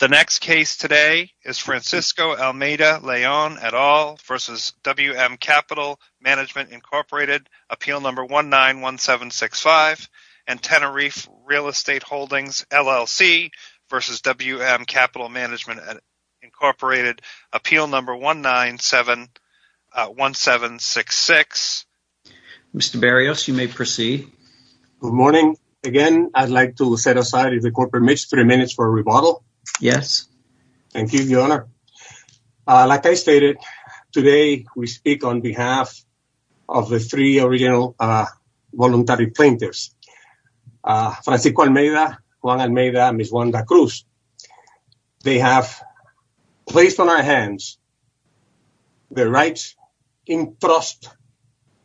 The next case today is Francisco Almeida-Leon et al. v. WM Capital Management, Inc. Appeal Number 191765 and Tenerife Real Estate Holdings LLC v. WM Capital Management, Inc. Appeal Number 191766. Mr. Barrios, you may proceed. Good morning. Again, I'd like to set aside, if the Court permits, three minutes for a rebuttal. Yes. Thank you, Your Honor. Like I stated, today we speak on behalf of the three original voluntary plaintiffs, Francisco Almeida, Juan Almeida, and Ms. Wanda Cruz. They have placed on our hands their rights in trust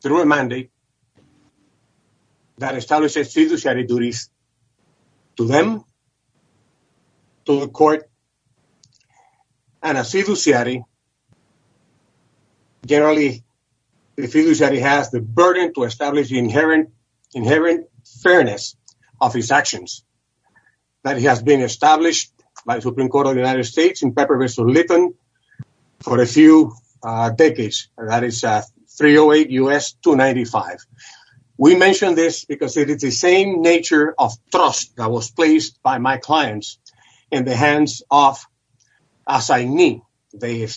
through a mandate that establishes fiduciary duties to them, to the Court. And a fiduciary, generally, a fiduciary has the burden to establish the inherent fairness of his actions that he has been established by the Supreme Court of the few decades. That is 308 U.S. 295. We mention this because it is the same nature of trust that was placed by my clients in the hands of assignee. They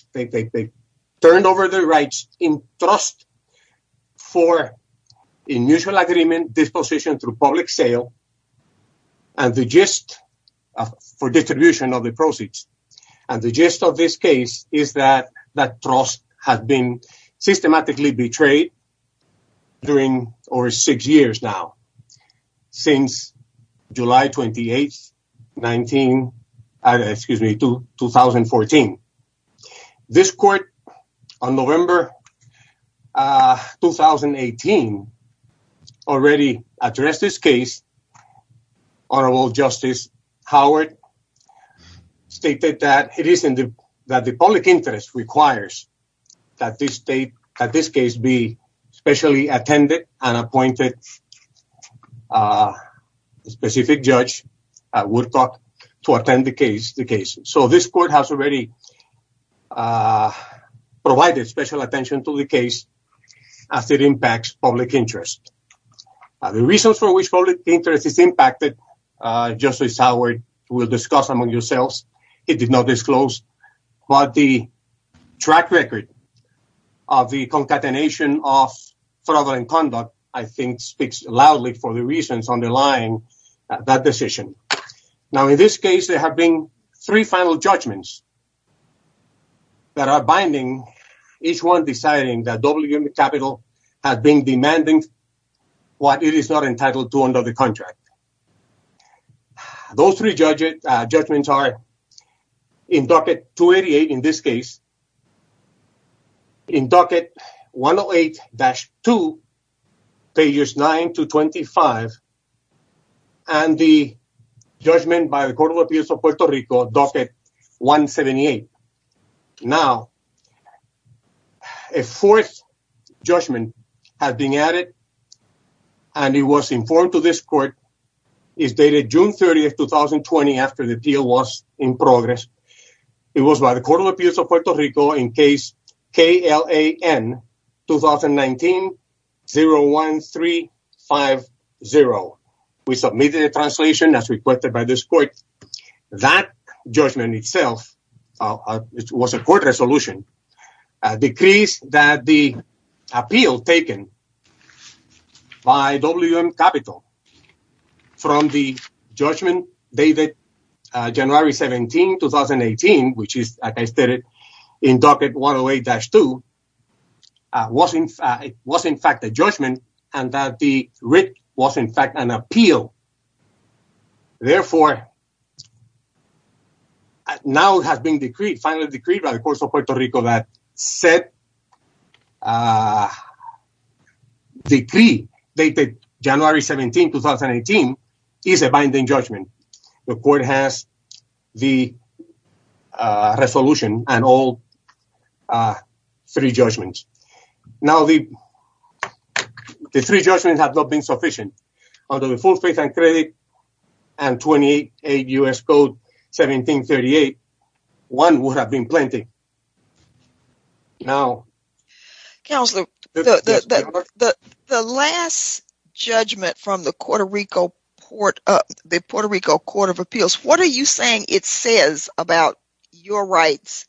turned over their rights in trust for in mutual agreement disposition through public sale and the gist for distribution of the proceeds. And the gist of this case is that that trust has been systematically betrayed during over six years now, since July 28, 2014. This Court, on November 2018, already addressed this case. Honorable Justice Howard stated that it is in the that the public interest requires that this case be specially attended and appointed a specific judge at Woodcock to attend the case. So this Court has already provided special attention to the case as it impacts public interest. The reasons for which public interest is impacted, Justice Howard will discuss among yourselves. It did not disclose, but the track record of the concatenation of fraudulent conduct, I think, speaks loudly for the reasons underlying that decision. Now, in this case, there have been three final judgments. That are binding, each one deciding that WM Capital has been demanding what it is not entitled to under the contract. Those three judgments are in docket 288 in this case, in docket 108-2, pages 9 to 25, and the judgment by the Court of Appeals of Puerto Rico, docket 178. Now, a fourth judgment has been added, and it was informed to this Court, is dated June 30, 2020, after the deal was in progress. It was by the Court of Appeals of Puerto Rico in case KLAN-2019-01350. We submitted a translation as requested by this Court. That judgment itself, it was a Court resolution, decrees that the appeal taken by WM Capital from the judgment dated January 17, 2018, which is, as I stated, in docket 108-2, was, in fact, a judgment, and that the writ was, in fact, an appeal. Therefore, now it has been finally decreed by the Court of Appeals of Puerto Rico that said decree dated January 17, 2018, is a binding judgment. The Court has the resolution, and all three judgments. Now, the three judgments have not been sufficient. Under the full faith and credit and 28 U.S. Code 1738, one would have been plenty. Now... Counselor, the last judgment from the Puerto Rico Court of Appeals, what are you saying it says about your rights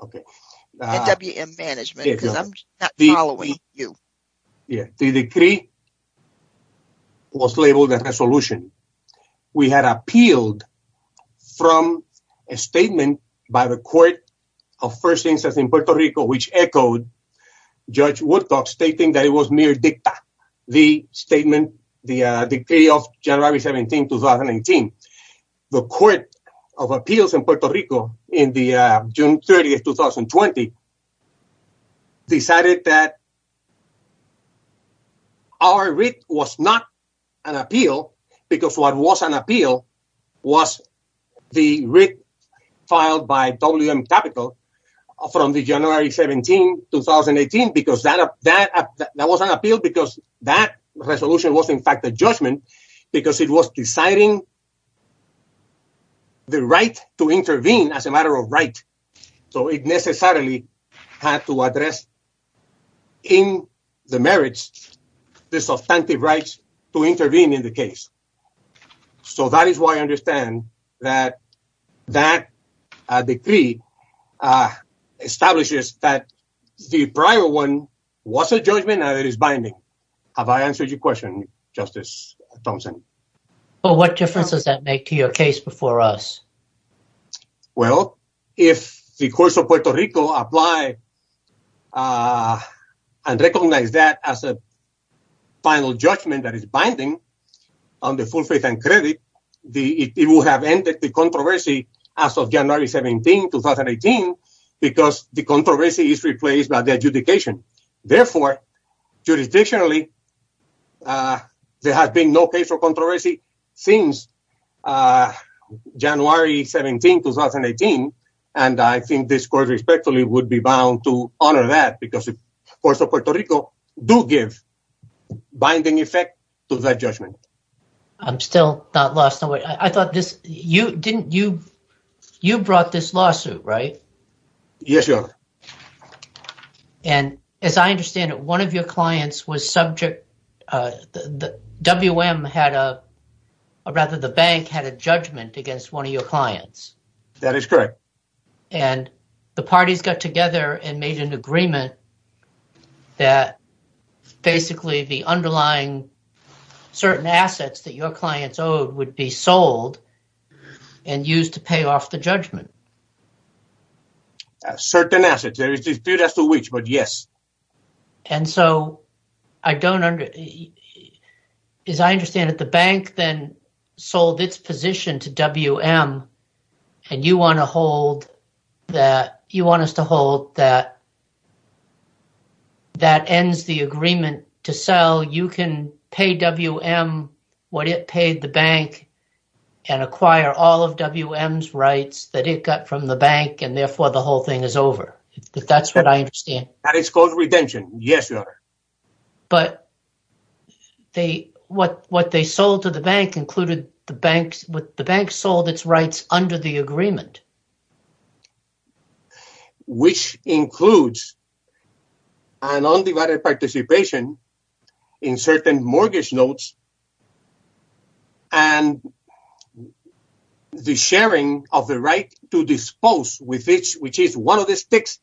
and WM Management? Because I'm not following you. Yeah, the decree was labeled a resolution. We had appealed from a statement by the Court of First Instance in Puerto Rico, which echoed Judge Woodcock's statement that it was mere dicta, the statement, the decree of January 17, 2018. The Court of Appeals in Puerto Rico, on June 30, 2020, decided that our writ was not an appeal because what was an appeal was the writ filed by WM Capital from January 17, 2018, because that was an appeal because that resolution was in fact a judgment because it was deciding the right to intervene as a matter of right. So it necessarily had to address in the merits the substantive rights to intervene in the case. So that is why I understand that that decree establishes that the prior one was a judgment and it is binding. Have I answered your question, Justice Thompson? Well, what difference does that make to your case before us? Well, if the courts of Puerto Rico apply and recognize that as a final judgment that is binding on the full faith and credit, it will have ended the controversy as of January 17, 2018, because the controversy is replaced by the adjudication. Therefore, jurisdictionally, there has been no case for controversy since January 17, 2018, and I think this Court respectfully would be bound to honor that because the courts of Puerto Rico do give binding effect to that judgment. I'm still not lost. I thought you brought this lawsuit, right? Yes, Your Honor. And as I understand it, one of your clients was subject... WM had a... or rather the bank had a judgment against one of your clients. That is correct. And the parties got together and made an agreement that basically the underlying certain assets that your clients owed would be sold and used to pay off the judgment. Certain assets. There is dispute as to which, but yes. And so I don't... as I understand it, the bank then sold its position to WM, and you want to hold that... you want us to hold that that ends the agreement to sell. You can pay WM what it paid the bank and acquire all of WM's rights that it got from the bank, and therefore the whole thing is over. That's what I understand. That is called redemption. Yes, Your Honor. But what they sold to the bank included... the bank sold its rights under the agreement. Which includes an undivided participation in certain mortgage notes and the sharing of the right to dispose, which is one of the sticks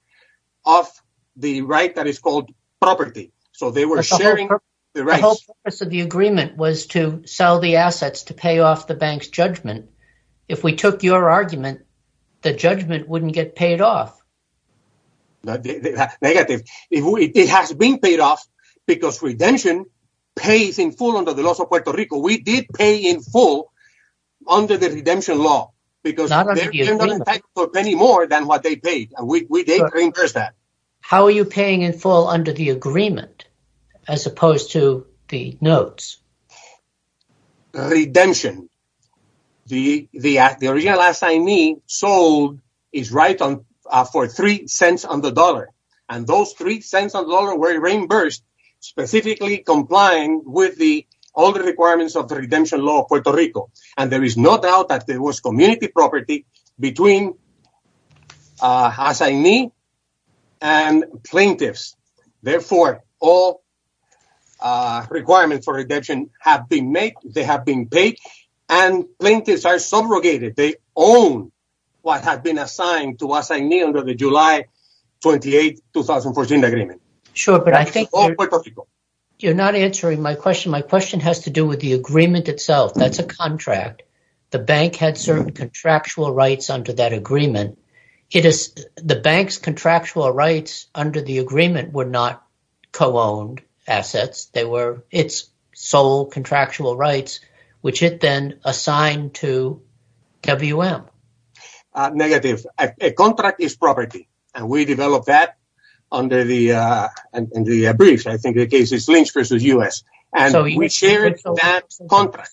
of the right that is called property. So they were sharing the rights. The whole purpose of the agreement was to sell the assets to pay off the bank's judgment. If we took your argument, the judgment wouldn't get paid off. Negative. It has been paid off because redemption pays in full under the laws of Puerto Rico. We did pay in full under the redemption law because they're not entitled to a penny more than what they paid. We did reimburse that. How are you paying in full under the agreement as opposed to the notes? Redemption. The original assignee sold his right for three cents on the dollar, and those three cents on the dollar were reimbursed, specifically complying with all the requirements of the redemption law of Puerto Rico. And there is no doubt that there was community property between assignee and plaintiffs. Therefore, all requirements for redemption have been made. They have been paid, and plaintiffs are subrogated. They own what is the 2014 agreement. You're not answering my question. My question has to do with the agreement itself. That's a contract. The bank had certain contractual rights under that agreement. The bank's contractual rights under the agreement were not co-owned assets. They were its sole contractual rights, which it then assigned to WM. Negative. A contract is property, and we developed that under the briefs. I think the case is Lynch v. U.S., and we shared that contract.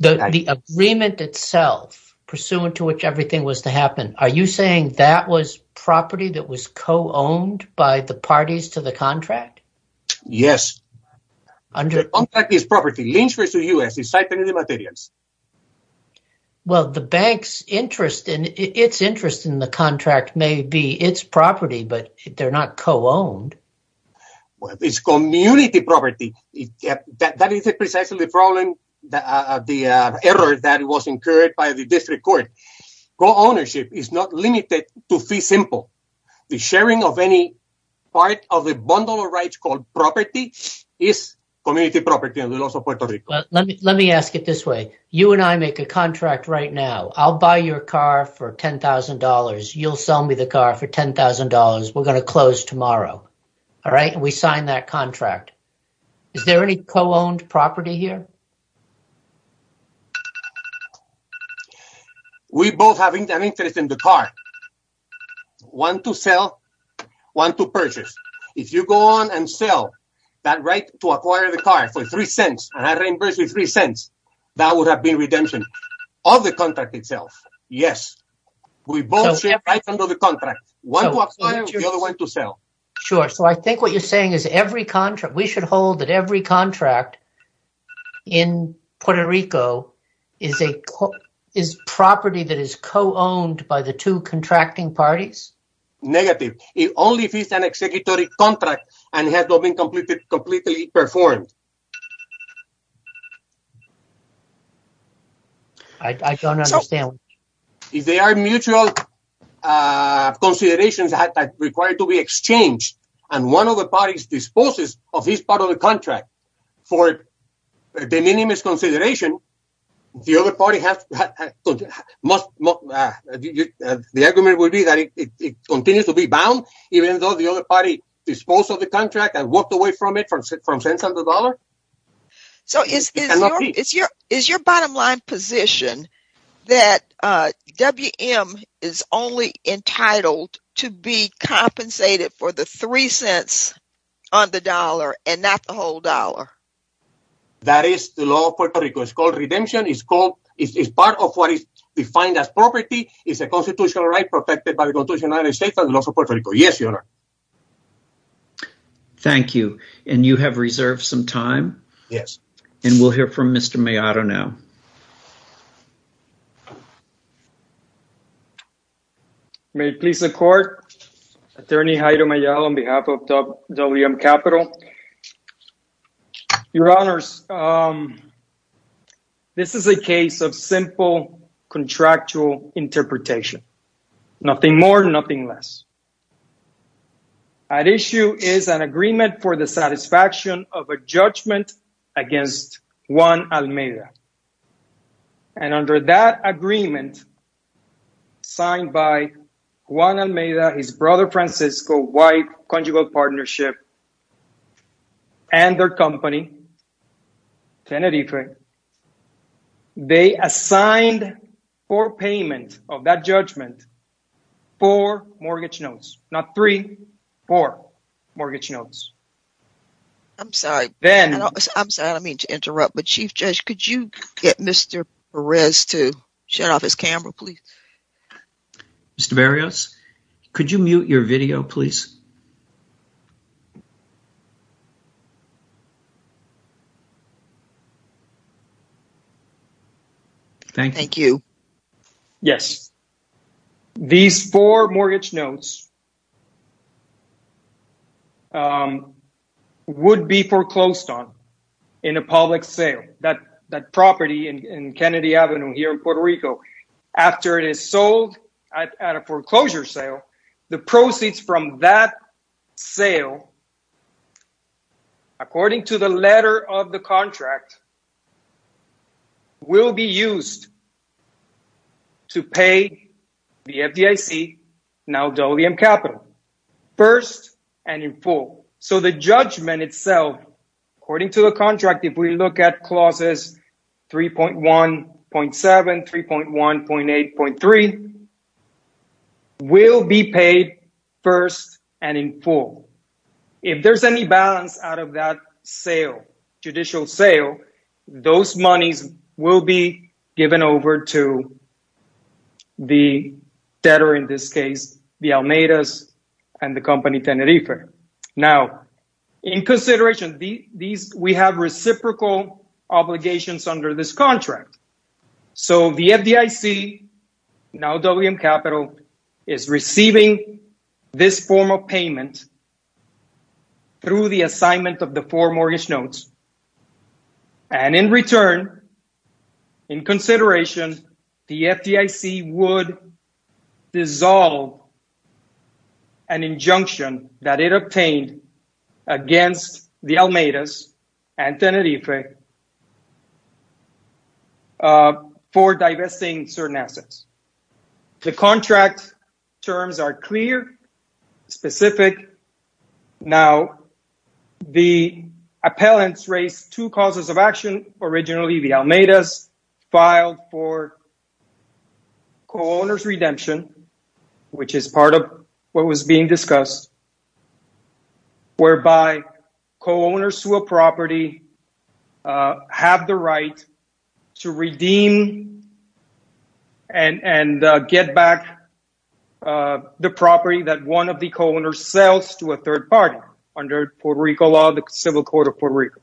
The agreement itself, pursuant to which everything was to happen, are you saying that was property that was co-owned by the parties to the contract? Yes. The contract is property. Lynch v. U.S. is citing the materials. Well, the bank's interest in the contract may be its property, but they're not co-owned. Well, it's community property. That is precisely the error that was incurred by the district court. Co-ownership is not limited to fee simple. The sharing of any part of a bundle of rights called property is community property. Let me ask it this way. You and I make a contract right now. I'll buy your car for $10,000. You'll sell me the car for $10,000. We're going to close tomorrow. We sign that contract. Is there any co-owned property here? We both have an interest in the car. One to sell, one to purchase. If you go on and sell that right to acquire the car for $0.03, and I reimburse you $0.03, that would have been redemption of the contract itself. Yes. We both share rights under the contract. One to acquire, the other one to sell. Sure. So I think what you're saying we should hold that every contract in Puerto Rico is property that is co-owned by the two contracting parties? Negative. It only fits an executive contract and has not been completely performed. I don't understand. If they are mutual considerations that are required to be exchanged, and one of the parties disposes of his part of the contract for de minimis consideration, the argument would be that it continues to be bound, even though the other party disposed of the contract and walked away from it for $0.03? Is your bottom line position that WM is only entitled to be compensated for the $0.03 on the dollar and not the whole dollar? That is the law of Puerto Rico. It's called redemption. It's part of what is defined as property. It's a constitutional right protected by the Constitution of the United States and the laws of Puerto Rico. Yes, Your Honor. Thank you. And you have reserved some time? Yes. And we'll hear from Mr. Maillard now. May it please the Court, Attorney Haider Maillard on behalf of WM Capital. Your Honors, this is a case of simple contractual interpretation. Nothing more, nothing less. At issue is an agreement for the satisfaction of a judgment against Juan Almeida. And under that agreement, signed by Juan Almeida, his brother Francisco, white conjugal partnership, and their company, Tenerife, they assigned for payment of that judgment four mortgage notes, not three, four mortgage notes. I'm sorry. I'm sorry. I don't mean to interrupt, but Chief Judge, could you get Mr. Perez to shut off his camera, please? Mr. Berrios, could you mute your video, please? Thank you. Yes. These four mortgage notes would be foreclosed on in a public sale. That property in Kennedy Avenue here in Puerto Rico, after it is sold at a foreclosure sale, the proceeds from that sale, according to the letter of the contract, will be used to pay the FDIC, now WM Capital, first and in full. So the judgment itself, according to the contract, if we look at clauses 3.1.7, 3.1.8.3, will be paid first and in full. If there's any balance out of that sale, judicial sale, those monies will be given over to the debtor in this case, the Almeidas and the company Tenerife. Now, in consideration, we have reciprocal obligations under this contract. So the FDIC, now WM Capital, is receiving this form of payment through the assignment of the dissolved, an injunction that it obtained against the Almeidas and Tenerife for divesting certain assets. The contract terms are clear, specific. Now, the appellants raised two causes of action. Originally, the Almeidas filed for co-owner's redemption, which is part of what was being discussed, whereby co-owners to a property have the right to redeem and get back the property that one of the co-owners sells to a third party under Puerto Rico law, the civil court of Puerto Rico.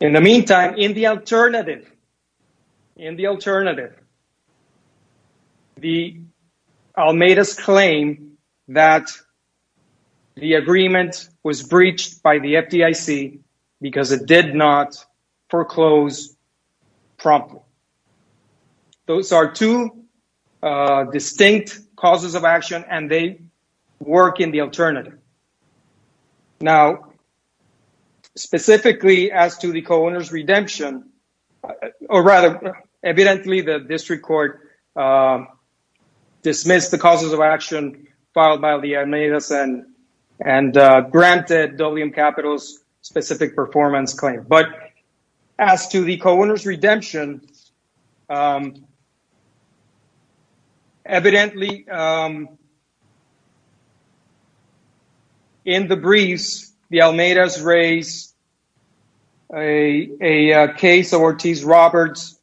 In the meantime, in the alternative, in the alternative, the Almeidas claim that the agreement was breached by the FDIC because it did not foreclose promptly. Those are two specifically as to the co-owner's redemption, or rather, evidently, the district court dismissed the causes of action filed by the Almeidas and granted WM Capital's specific performance claim. But as to the co-owner's redemption, evidently, in the briefs, the Almeidas raised a case of Ortiz-Roberts,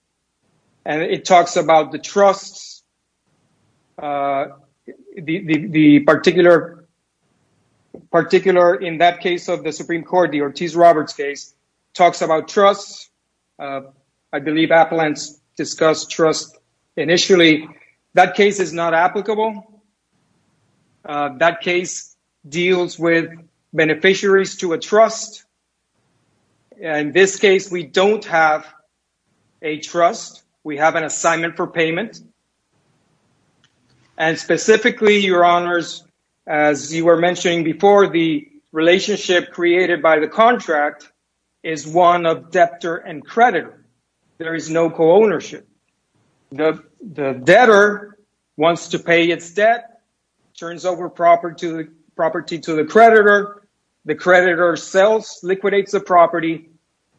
and it talks about the trusts. The particular, in that case of the Supreme Court, the Ortiz-Roberts case, talks about trusts. I believe Appalentz discussed trust initially. That case is not applicable. That case deals with beneficiaries to a trust. In this case, we don't have a trust. We have an assignment for payment. And specifically, your honors, as you were mentioning before, the relationship created by the contract is one of debtor and creditor. There is no co-ownership. The debtor wants to pay its debt, turns over property to the creditor. The creditor sells, liquidates the property,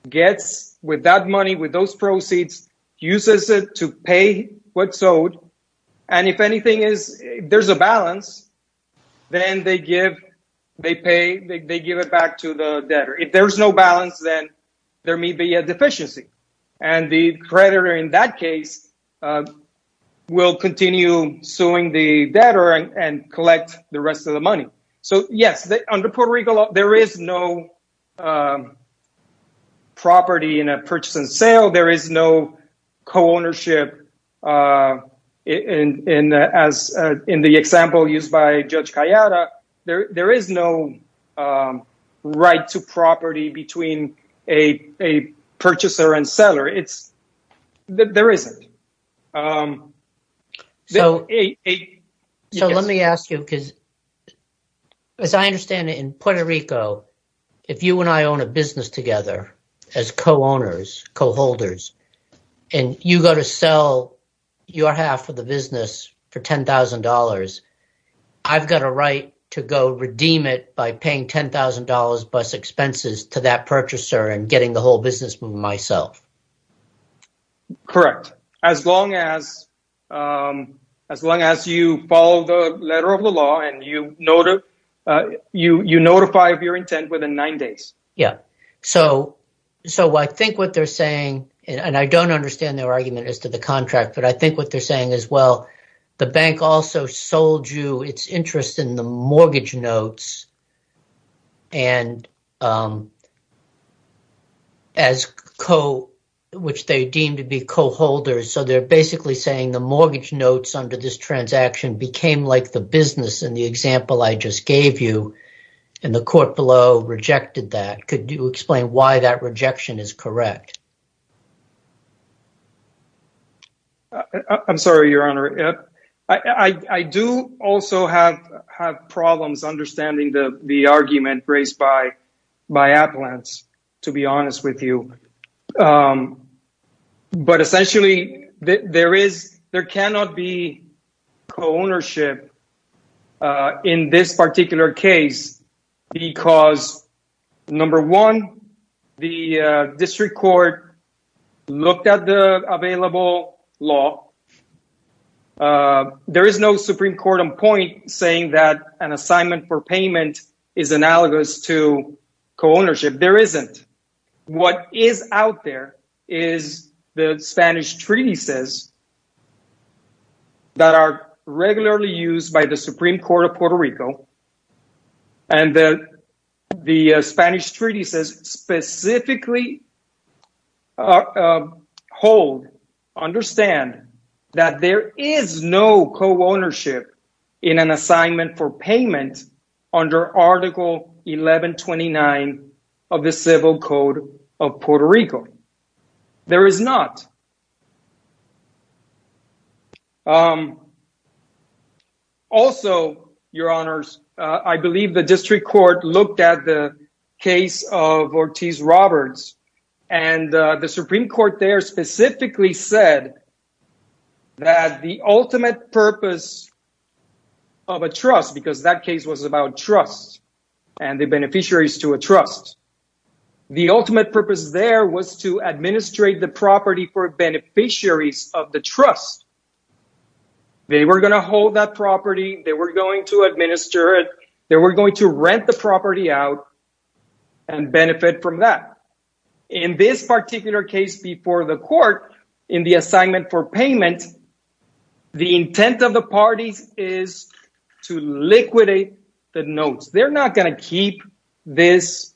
gets with that money, with those proceeds, uses it to pay what's owed. And if anything, there's a balance, then they give it back to the debtor. If there's no balance, then there may be a deficiency. And the creditor, in that case, will continue suing the debtor and collect the rest of the money. So yes, under Puerto Rico, there is no property in a purchase and sale. There is no co-ownership in the example used by Judge Calleja. There is no right to property between a purchaser and seller. There isn't. So let me ask you, because as I understand it, in Puerto Rico, if you and I own a business together as co-owners, co-holders, and you go to sell your half of the business for $10,000, I've got a right to go redeem it by paying $10,000 plus expenses to that purchaser and getting the whole business moving myself. Correct. As long as you follow the letter of the law and you notify of your intent within nine days. Yeah. So I think what they're saying, and I don't understand their argument as to the contract, but I think what they're saying is, the bank also sold you its interest in the mortgage notes, which they deem to be co-holders. So they're basically saying the mortgage notes under this transaction became like the business in the example I just gave you, and the court below rejected that. Could you explain why that is? I do also have problems understanding the argument raised by Appalachians, to be honest with you. But essentially, there cannot be co-ownership in this particular case, because number one, the district court looked at the available law. There is no Supreme Court on point saying that an assignment for payment is analogous to co-ownership. There isn't. What is out there is the Spanish treatises that are regularly used by the Supreme Court of Puerto Rico. And the Spanish treatises specifically hold, understand that there is no co-ownership in an assignment for payment under Article 1129 of the Civil Code of Puerto Rico. There is not. Also, your honors, I believe the district court looked at the case of Ortiz Roberts, and the Supreme Court there specifically said that the ultimate purpose of a trust, because that case was about trust and the beneficiaries to a trust, the ultimate purpose there was to administrate the property for beneficiaries of the trust. They were going to hold that property. They were going to administer it. They were going to rent the property out and benefit from that. In this particular case before the court in the assignment for payment, the intent of the parties is to liquidate the notes. They're not going to keep these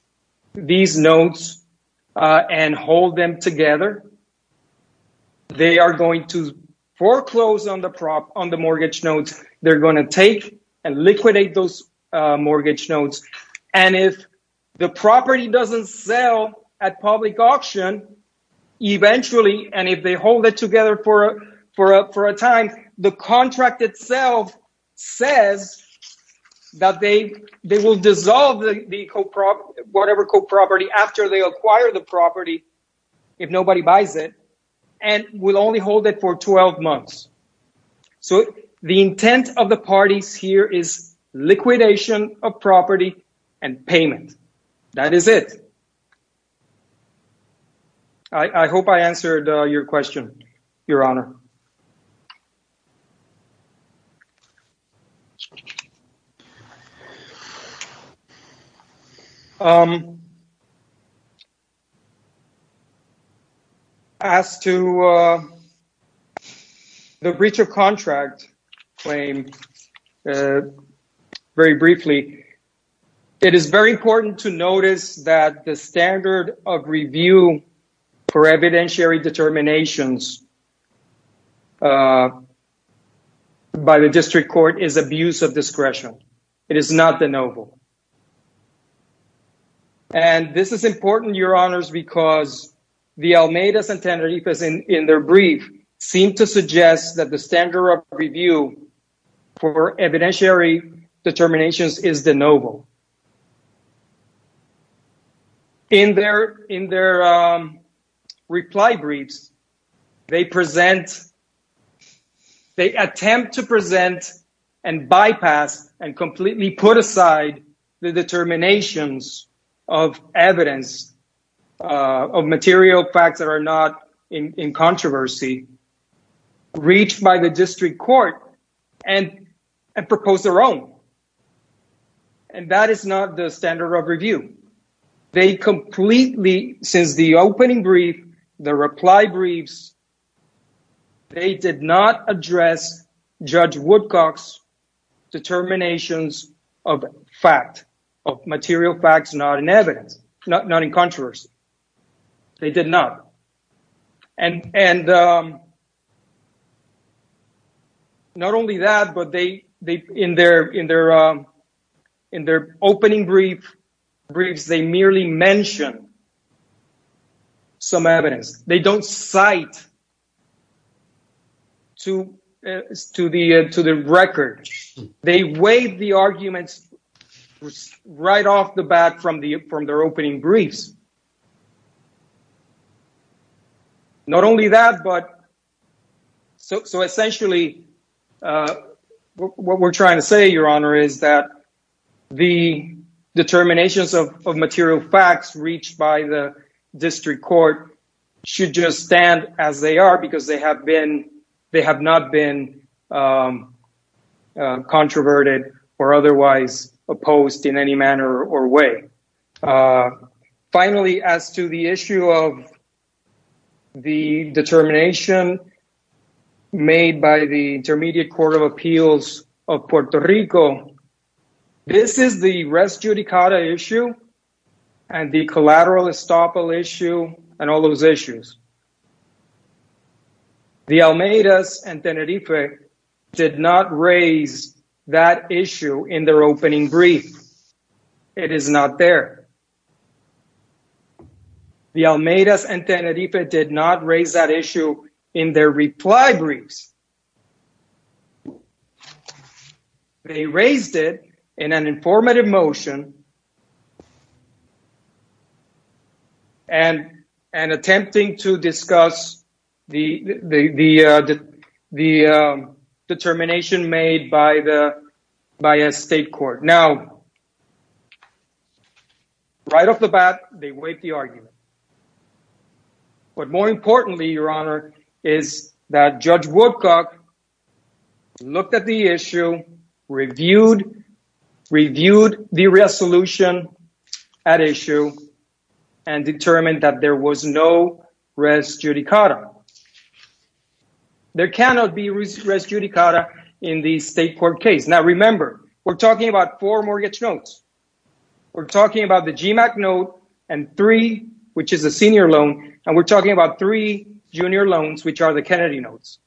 notes and hold them together. They are going to foreclose on the mortgage notes. They're going to take and liquidate those eventually. And if they hold it together for a time, the contract itself says that they will dissolve the whatever co-property after they acquire the property, if nobody buys it, and will only hold it for 12 months. So, the intent of the parties here is liquidation of property and payment. That is it. I hope I answered your question, Your Honor. As to the breach of contract claim, very briefly, it is very important to notice that the standard of review for evidentiary determinations by the district court is abuse of discretion. It is not de novo. And this is important, Your Honors, because the Almeidas and Teneriffas in their brief seem to suggest that the standard of review for evidentiary determinations is de novo. In their reply briefs, they present—they attempt to present and bypass and completely put aside the determinations of evidence, of material facts that are not in controversy, reached by the standard of review. They completely, since the opening brief, the reply briefs, they did not address Judge Woodcock's determinations of fact, of material facts not in controversy. In their opening briefs, they merely mention some evidence. They don't cite to the record. They waive the arguments right off the bat from their opening briefs. Not only that, but—so, essentially, what we're trying to say, Your Honor, is that the determinations of material facts reached by the district court should just stand as they are, because they have been—they have not been controverted or otherwise opposed in any manner or way. Finally, as to the issue of the determination made by the Intermediate Court of Appeals of Puerto Rico, this is the res judicata issue and the collateral estoppel issue and all those issues. The Almeidas and Tenerife did not raise that issue in their opening brief. It is not there. The Almeidas and Tenerife did not raise that issue in their reply briefs. They raised it in an informative motion and attempting to discuss the determination made by a state court. Now, right off the bat, they waive the argument. But, more importantly, Your Honor, is that Judge Woodcock looked at the issue, reviewed the resolution at issue, and determined that there was no res judicata. There cannot be res judicata in the state court case. Now, remember, we're talking about four which is a senior loan, and we're talking about three junior loans, which are the Kennedy notes.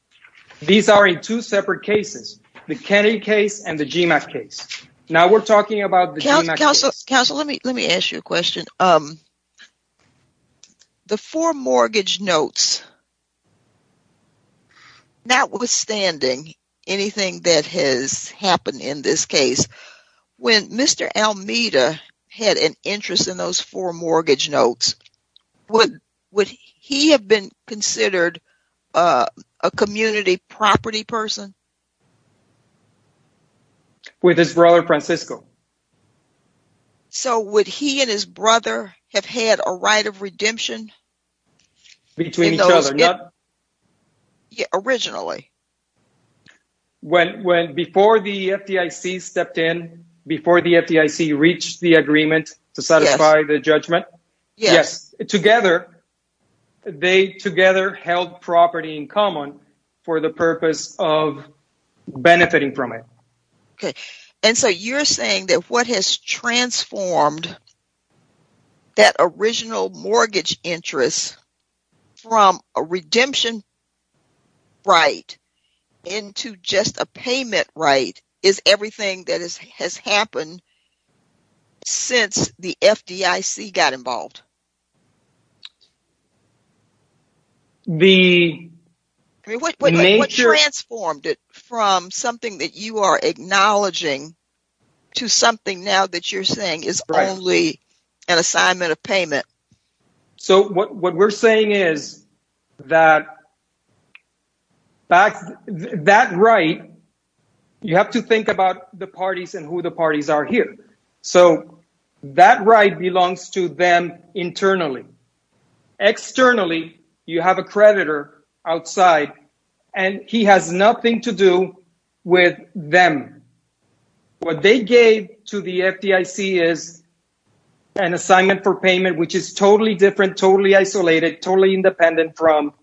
These are in two separate cases, the Kennedy case and the GMAC case. Now, we're talking about the GMAC case. Counsel, let me ask you a question. The four mortgage notes, notwithstanding anything that has happened in this case, when Mr. Almeida had an interest in those four mortgage notes, would he have been considered a community property person? With his brother, Francisco. So, would he and his brother have had a right of redemption? Between each other. Originally. When, before the FDIC stepped in, before the FDIC reached the agreement to satisfy the judgment? Yes. Yes. Together, they together held property in common for the purpose of benefiting from it. Okay, and so you're saying that what has transformed that original mortgage interest from a redemption right into just a payment right is everything that has happened since the FDIC got involved? The... What transformed it from something that you are acknowledging to something now that you're saying is only an assignment of payment? So, what we're saying is that right, you have to think about the parties and who the parties are here. So, that right belongs to them internally. Externally, you have a creditor outside, and he has nothing to do with them. What they gave to the FDIC is an assignment for payment, which is totally different, totally isolated, totally independent from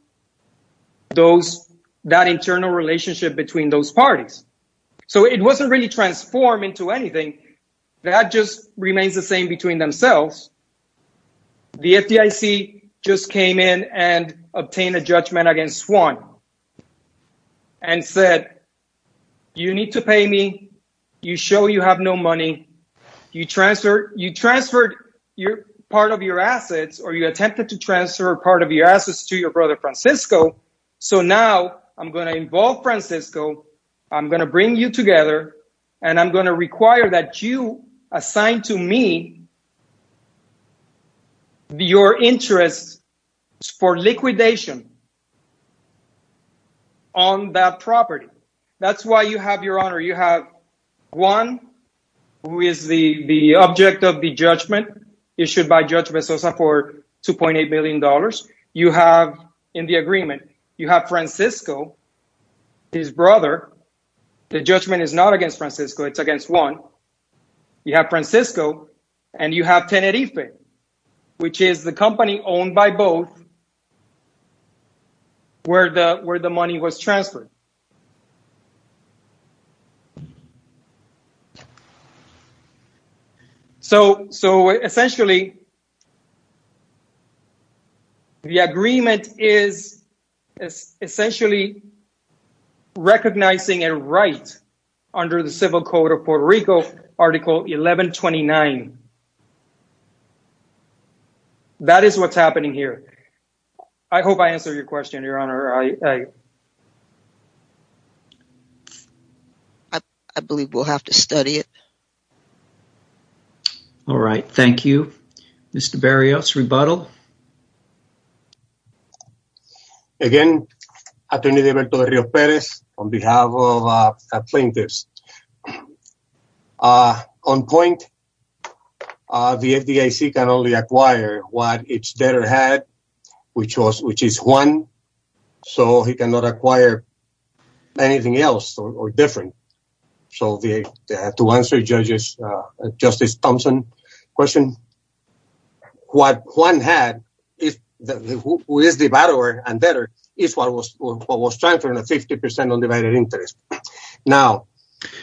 those, that internal relationship between those parties. So, it wasn't really transformed into anything. That just remains the same between themselves. The FDIC just came in and obtained a judgment against one and said, you need to pay me. You show you have no money. You transferred your part of your assets, or you attempted to transfer part of your assets to your brother Francisco. So, now I'm going to involve Francisco. I'm going to bring you together, and I'm going to require that you assign to me your interest for liquidation on that property. That's why you have your honor. You have Juan, who is the object of the judgment issued by Judge Mezosa for $2.8 billion. You have in the agreement, you have Francisco, his brother. The judgment is not against Francisco. It's against Juan. You have Francisco, and you have Tenerife, which is the company owned by both, where the money was transferred. So, essentially, the agreement is essentially recognizing a right under the Civil Code of Puerto Rico, Article 1129. That is what's happening here. I hope I answered your question, Your Honor. I believe we'll have to study it. All right. Thank you. Mr. Barrios, rebuttal. Again, Attorney Devento de Rios Perez, on behalf of plaintiffs. On point, the FDIC can only acquire what its debtor had, which is Juan, so he cannot acquire anything else or different. So, to answer Justice Thompson's question, what Juan had, who is the debtor and debtor, is what was transferred in a 50% undivided interest. Now,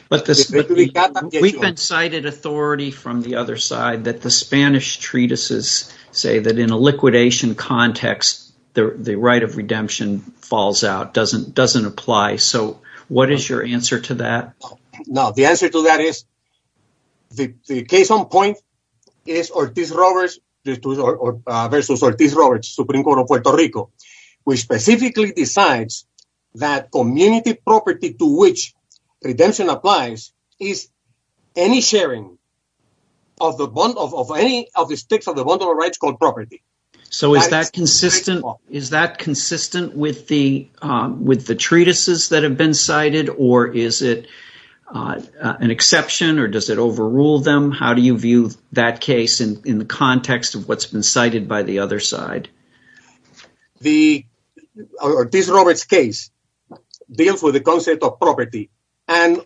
we've been cited authority from the other side that the Spanish treatises say that in a liquidation context, the right of redemption falls out, doesn't apply. So, what is your answer to that? Now, the answer to that is the case on point is Ortiz-Roberts versus Ortiz-Roberts, Supreme Court of Puerto Rico, which specifically decides that community property to which redemption applies is any sharing of any of the sticks of the bundle of rights called property. So, is that consistent with the treatises that have been cited, or is it an exception, or does it overrule them? How do you view that case in the context of what's been cited by the other side? The Ortiz-Roberts case deals with the concept of property and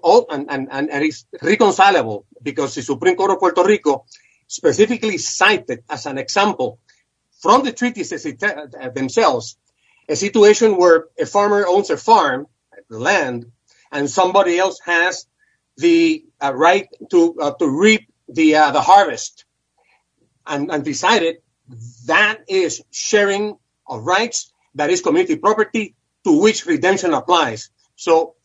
is reconcilable because the Supreme Court of Puerto Rico specifically cited as an example from the treatises themselves a situation where a farmer owns a farm, land, and somebody else has the harvest and decided that is sharing of rights, that is community property, to which redemption applies. So,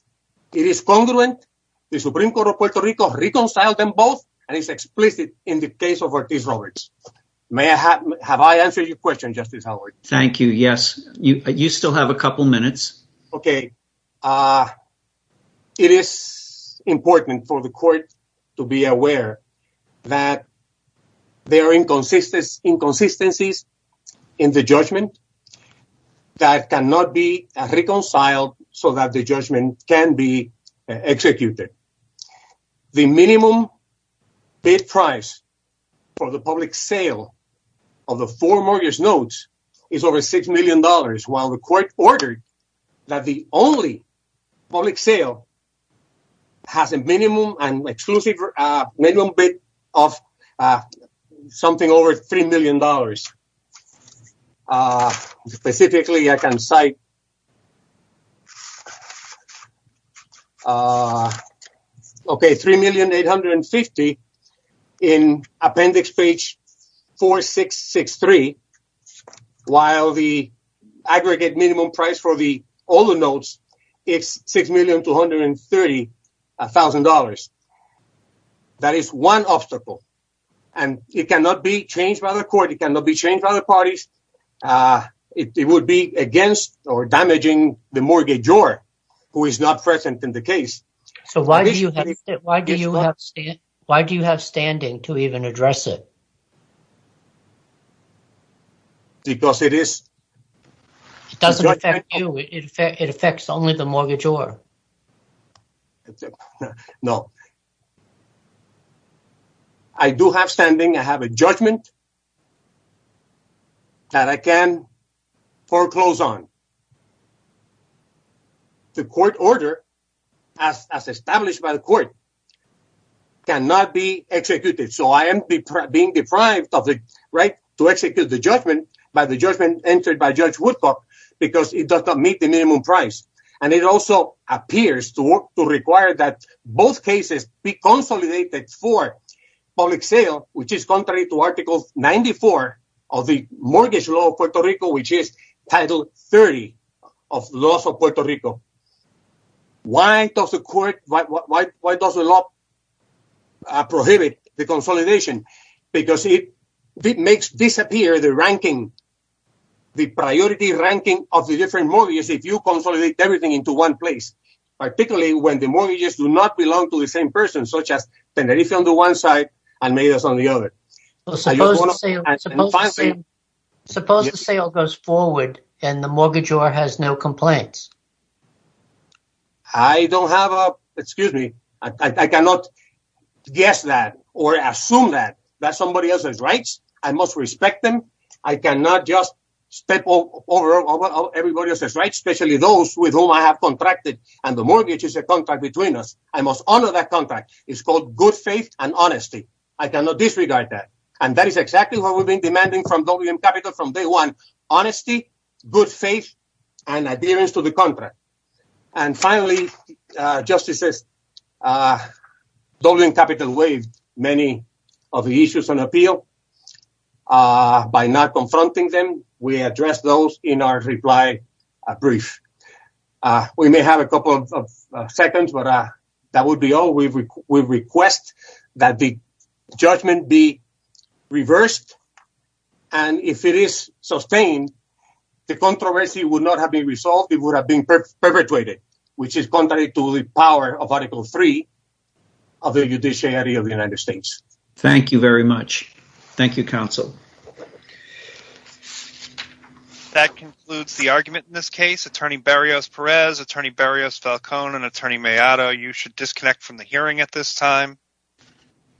it is congruent. The Supreme Court of Puerto Rico reconciled them both, and it's explicit in the case of Ortiz-Roberts. May I have, have I answered your question, Justice Howard? Thank you, yes. You still have a couple minutes. Okay, it is important for the court to be aware that there are inconsistencies in the judgment that cannot be reconciled so that the judgment can be executed. The minimum bid price for the public sale of the four mortgage notes is over six million dollars, while the court ordered that the only public sale has a minimum and exclusive minimum bid of something over three million dollars. Specifically, I can cite three million eight hundred and fifty in appendix page four six six three, while the aggregate minimum price for all the notes is six million two hundred and thirty a thousand dollars. That is one obstacle, and it cannot be changed by the court, it cannot be against or damaging the mortgagor, who is not present in the case. So, why do you have standing to even address it? Because it is... It doesn't affect you, it affects only the mortgagor. No. I do have standing, I have a judgment that I can foreclose on. The court order, as established by the court, cannot be executed. So, I am being deprived of the right to execute the judgment by the judgment entered by Judge Woodcock, because it does not meet the minimum price. And it also appears to require that both cases be consolidated for public sale, which is contrary to article 94 of the mortgage law of Puerto Rico, which is title 30 of laws of Puerto Rico. Why does the court, why does the law prohibit the consolidation? Because it makes disappear the ranking, the priority ranking of the different mortgages, if you consolidate everything into one place, particularly when the mortgages do not belong to the same person, such as Tenerife on the one side and Medes on the other. Suppose the sale goes forward and the mortgagor has no complaints? I don't have a... Excuse me. I cannot guess that or assume that somebody else has rights. I must respect them. I cannot just step over everybody else's rights, especially those with whom I have contracted, and the mortgage is a contract between us. I must honor that contract. It's called good faith and honesty. I cannot disregard that. And that is exactly what we've been demanding from WM Capital from day one. Honesty, good faith, and adherence to the contract. And finally, Justices, WM Capital waived many of the issues on appeal by not confronting them. We addressed those in our reply brief. We may have a couple of seconds, but that would be all. We request that the judgment be reversed. And if it is sustained, the controversy would not have been resolved. It would have been perpetrated, which is contrary to the power of Article 3 of the Judiciary of the United States. Thank you very much. Thank you, counsel. That concludes the argument in this case. Attorney Berrios-Perez, Attorney Berrios-Falcone, and Attorney Maiato, you should disconnect from the hearing at this time.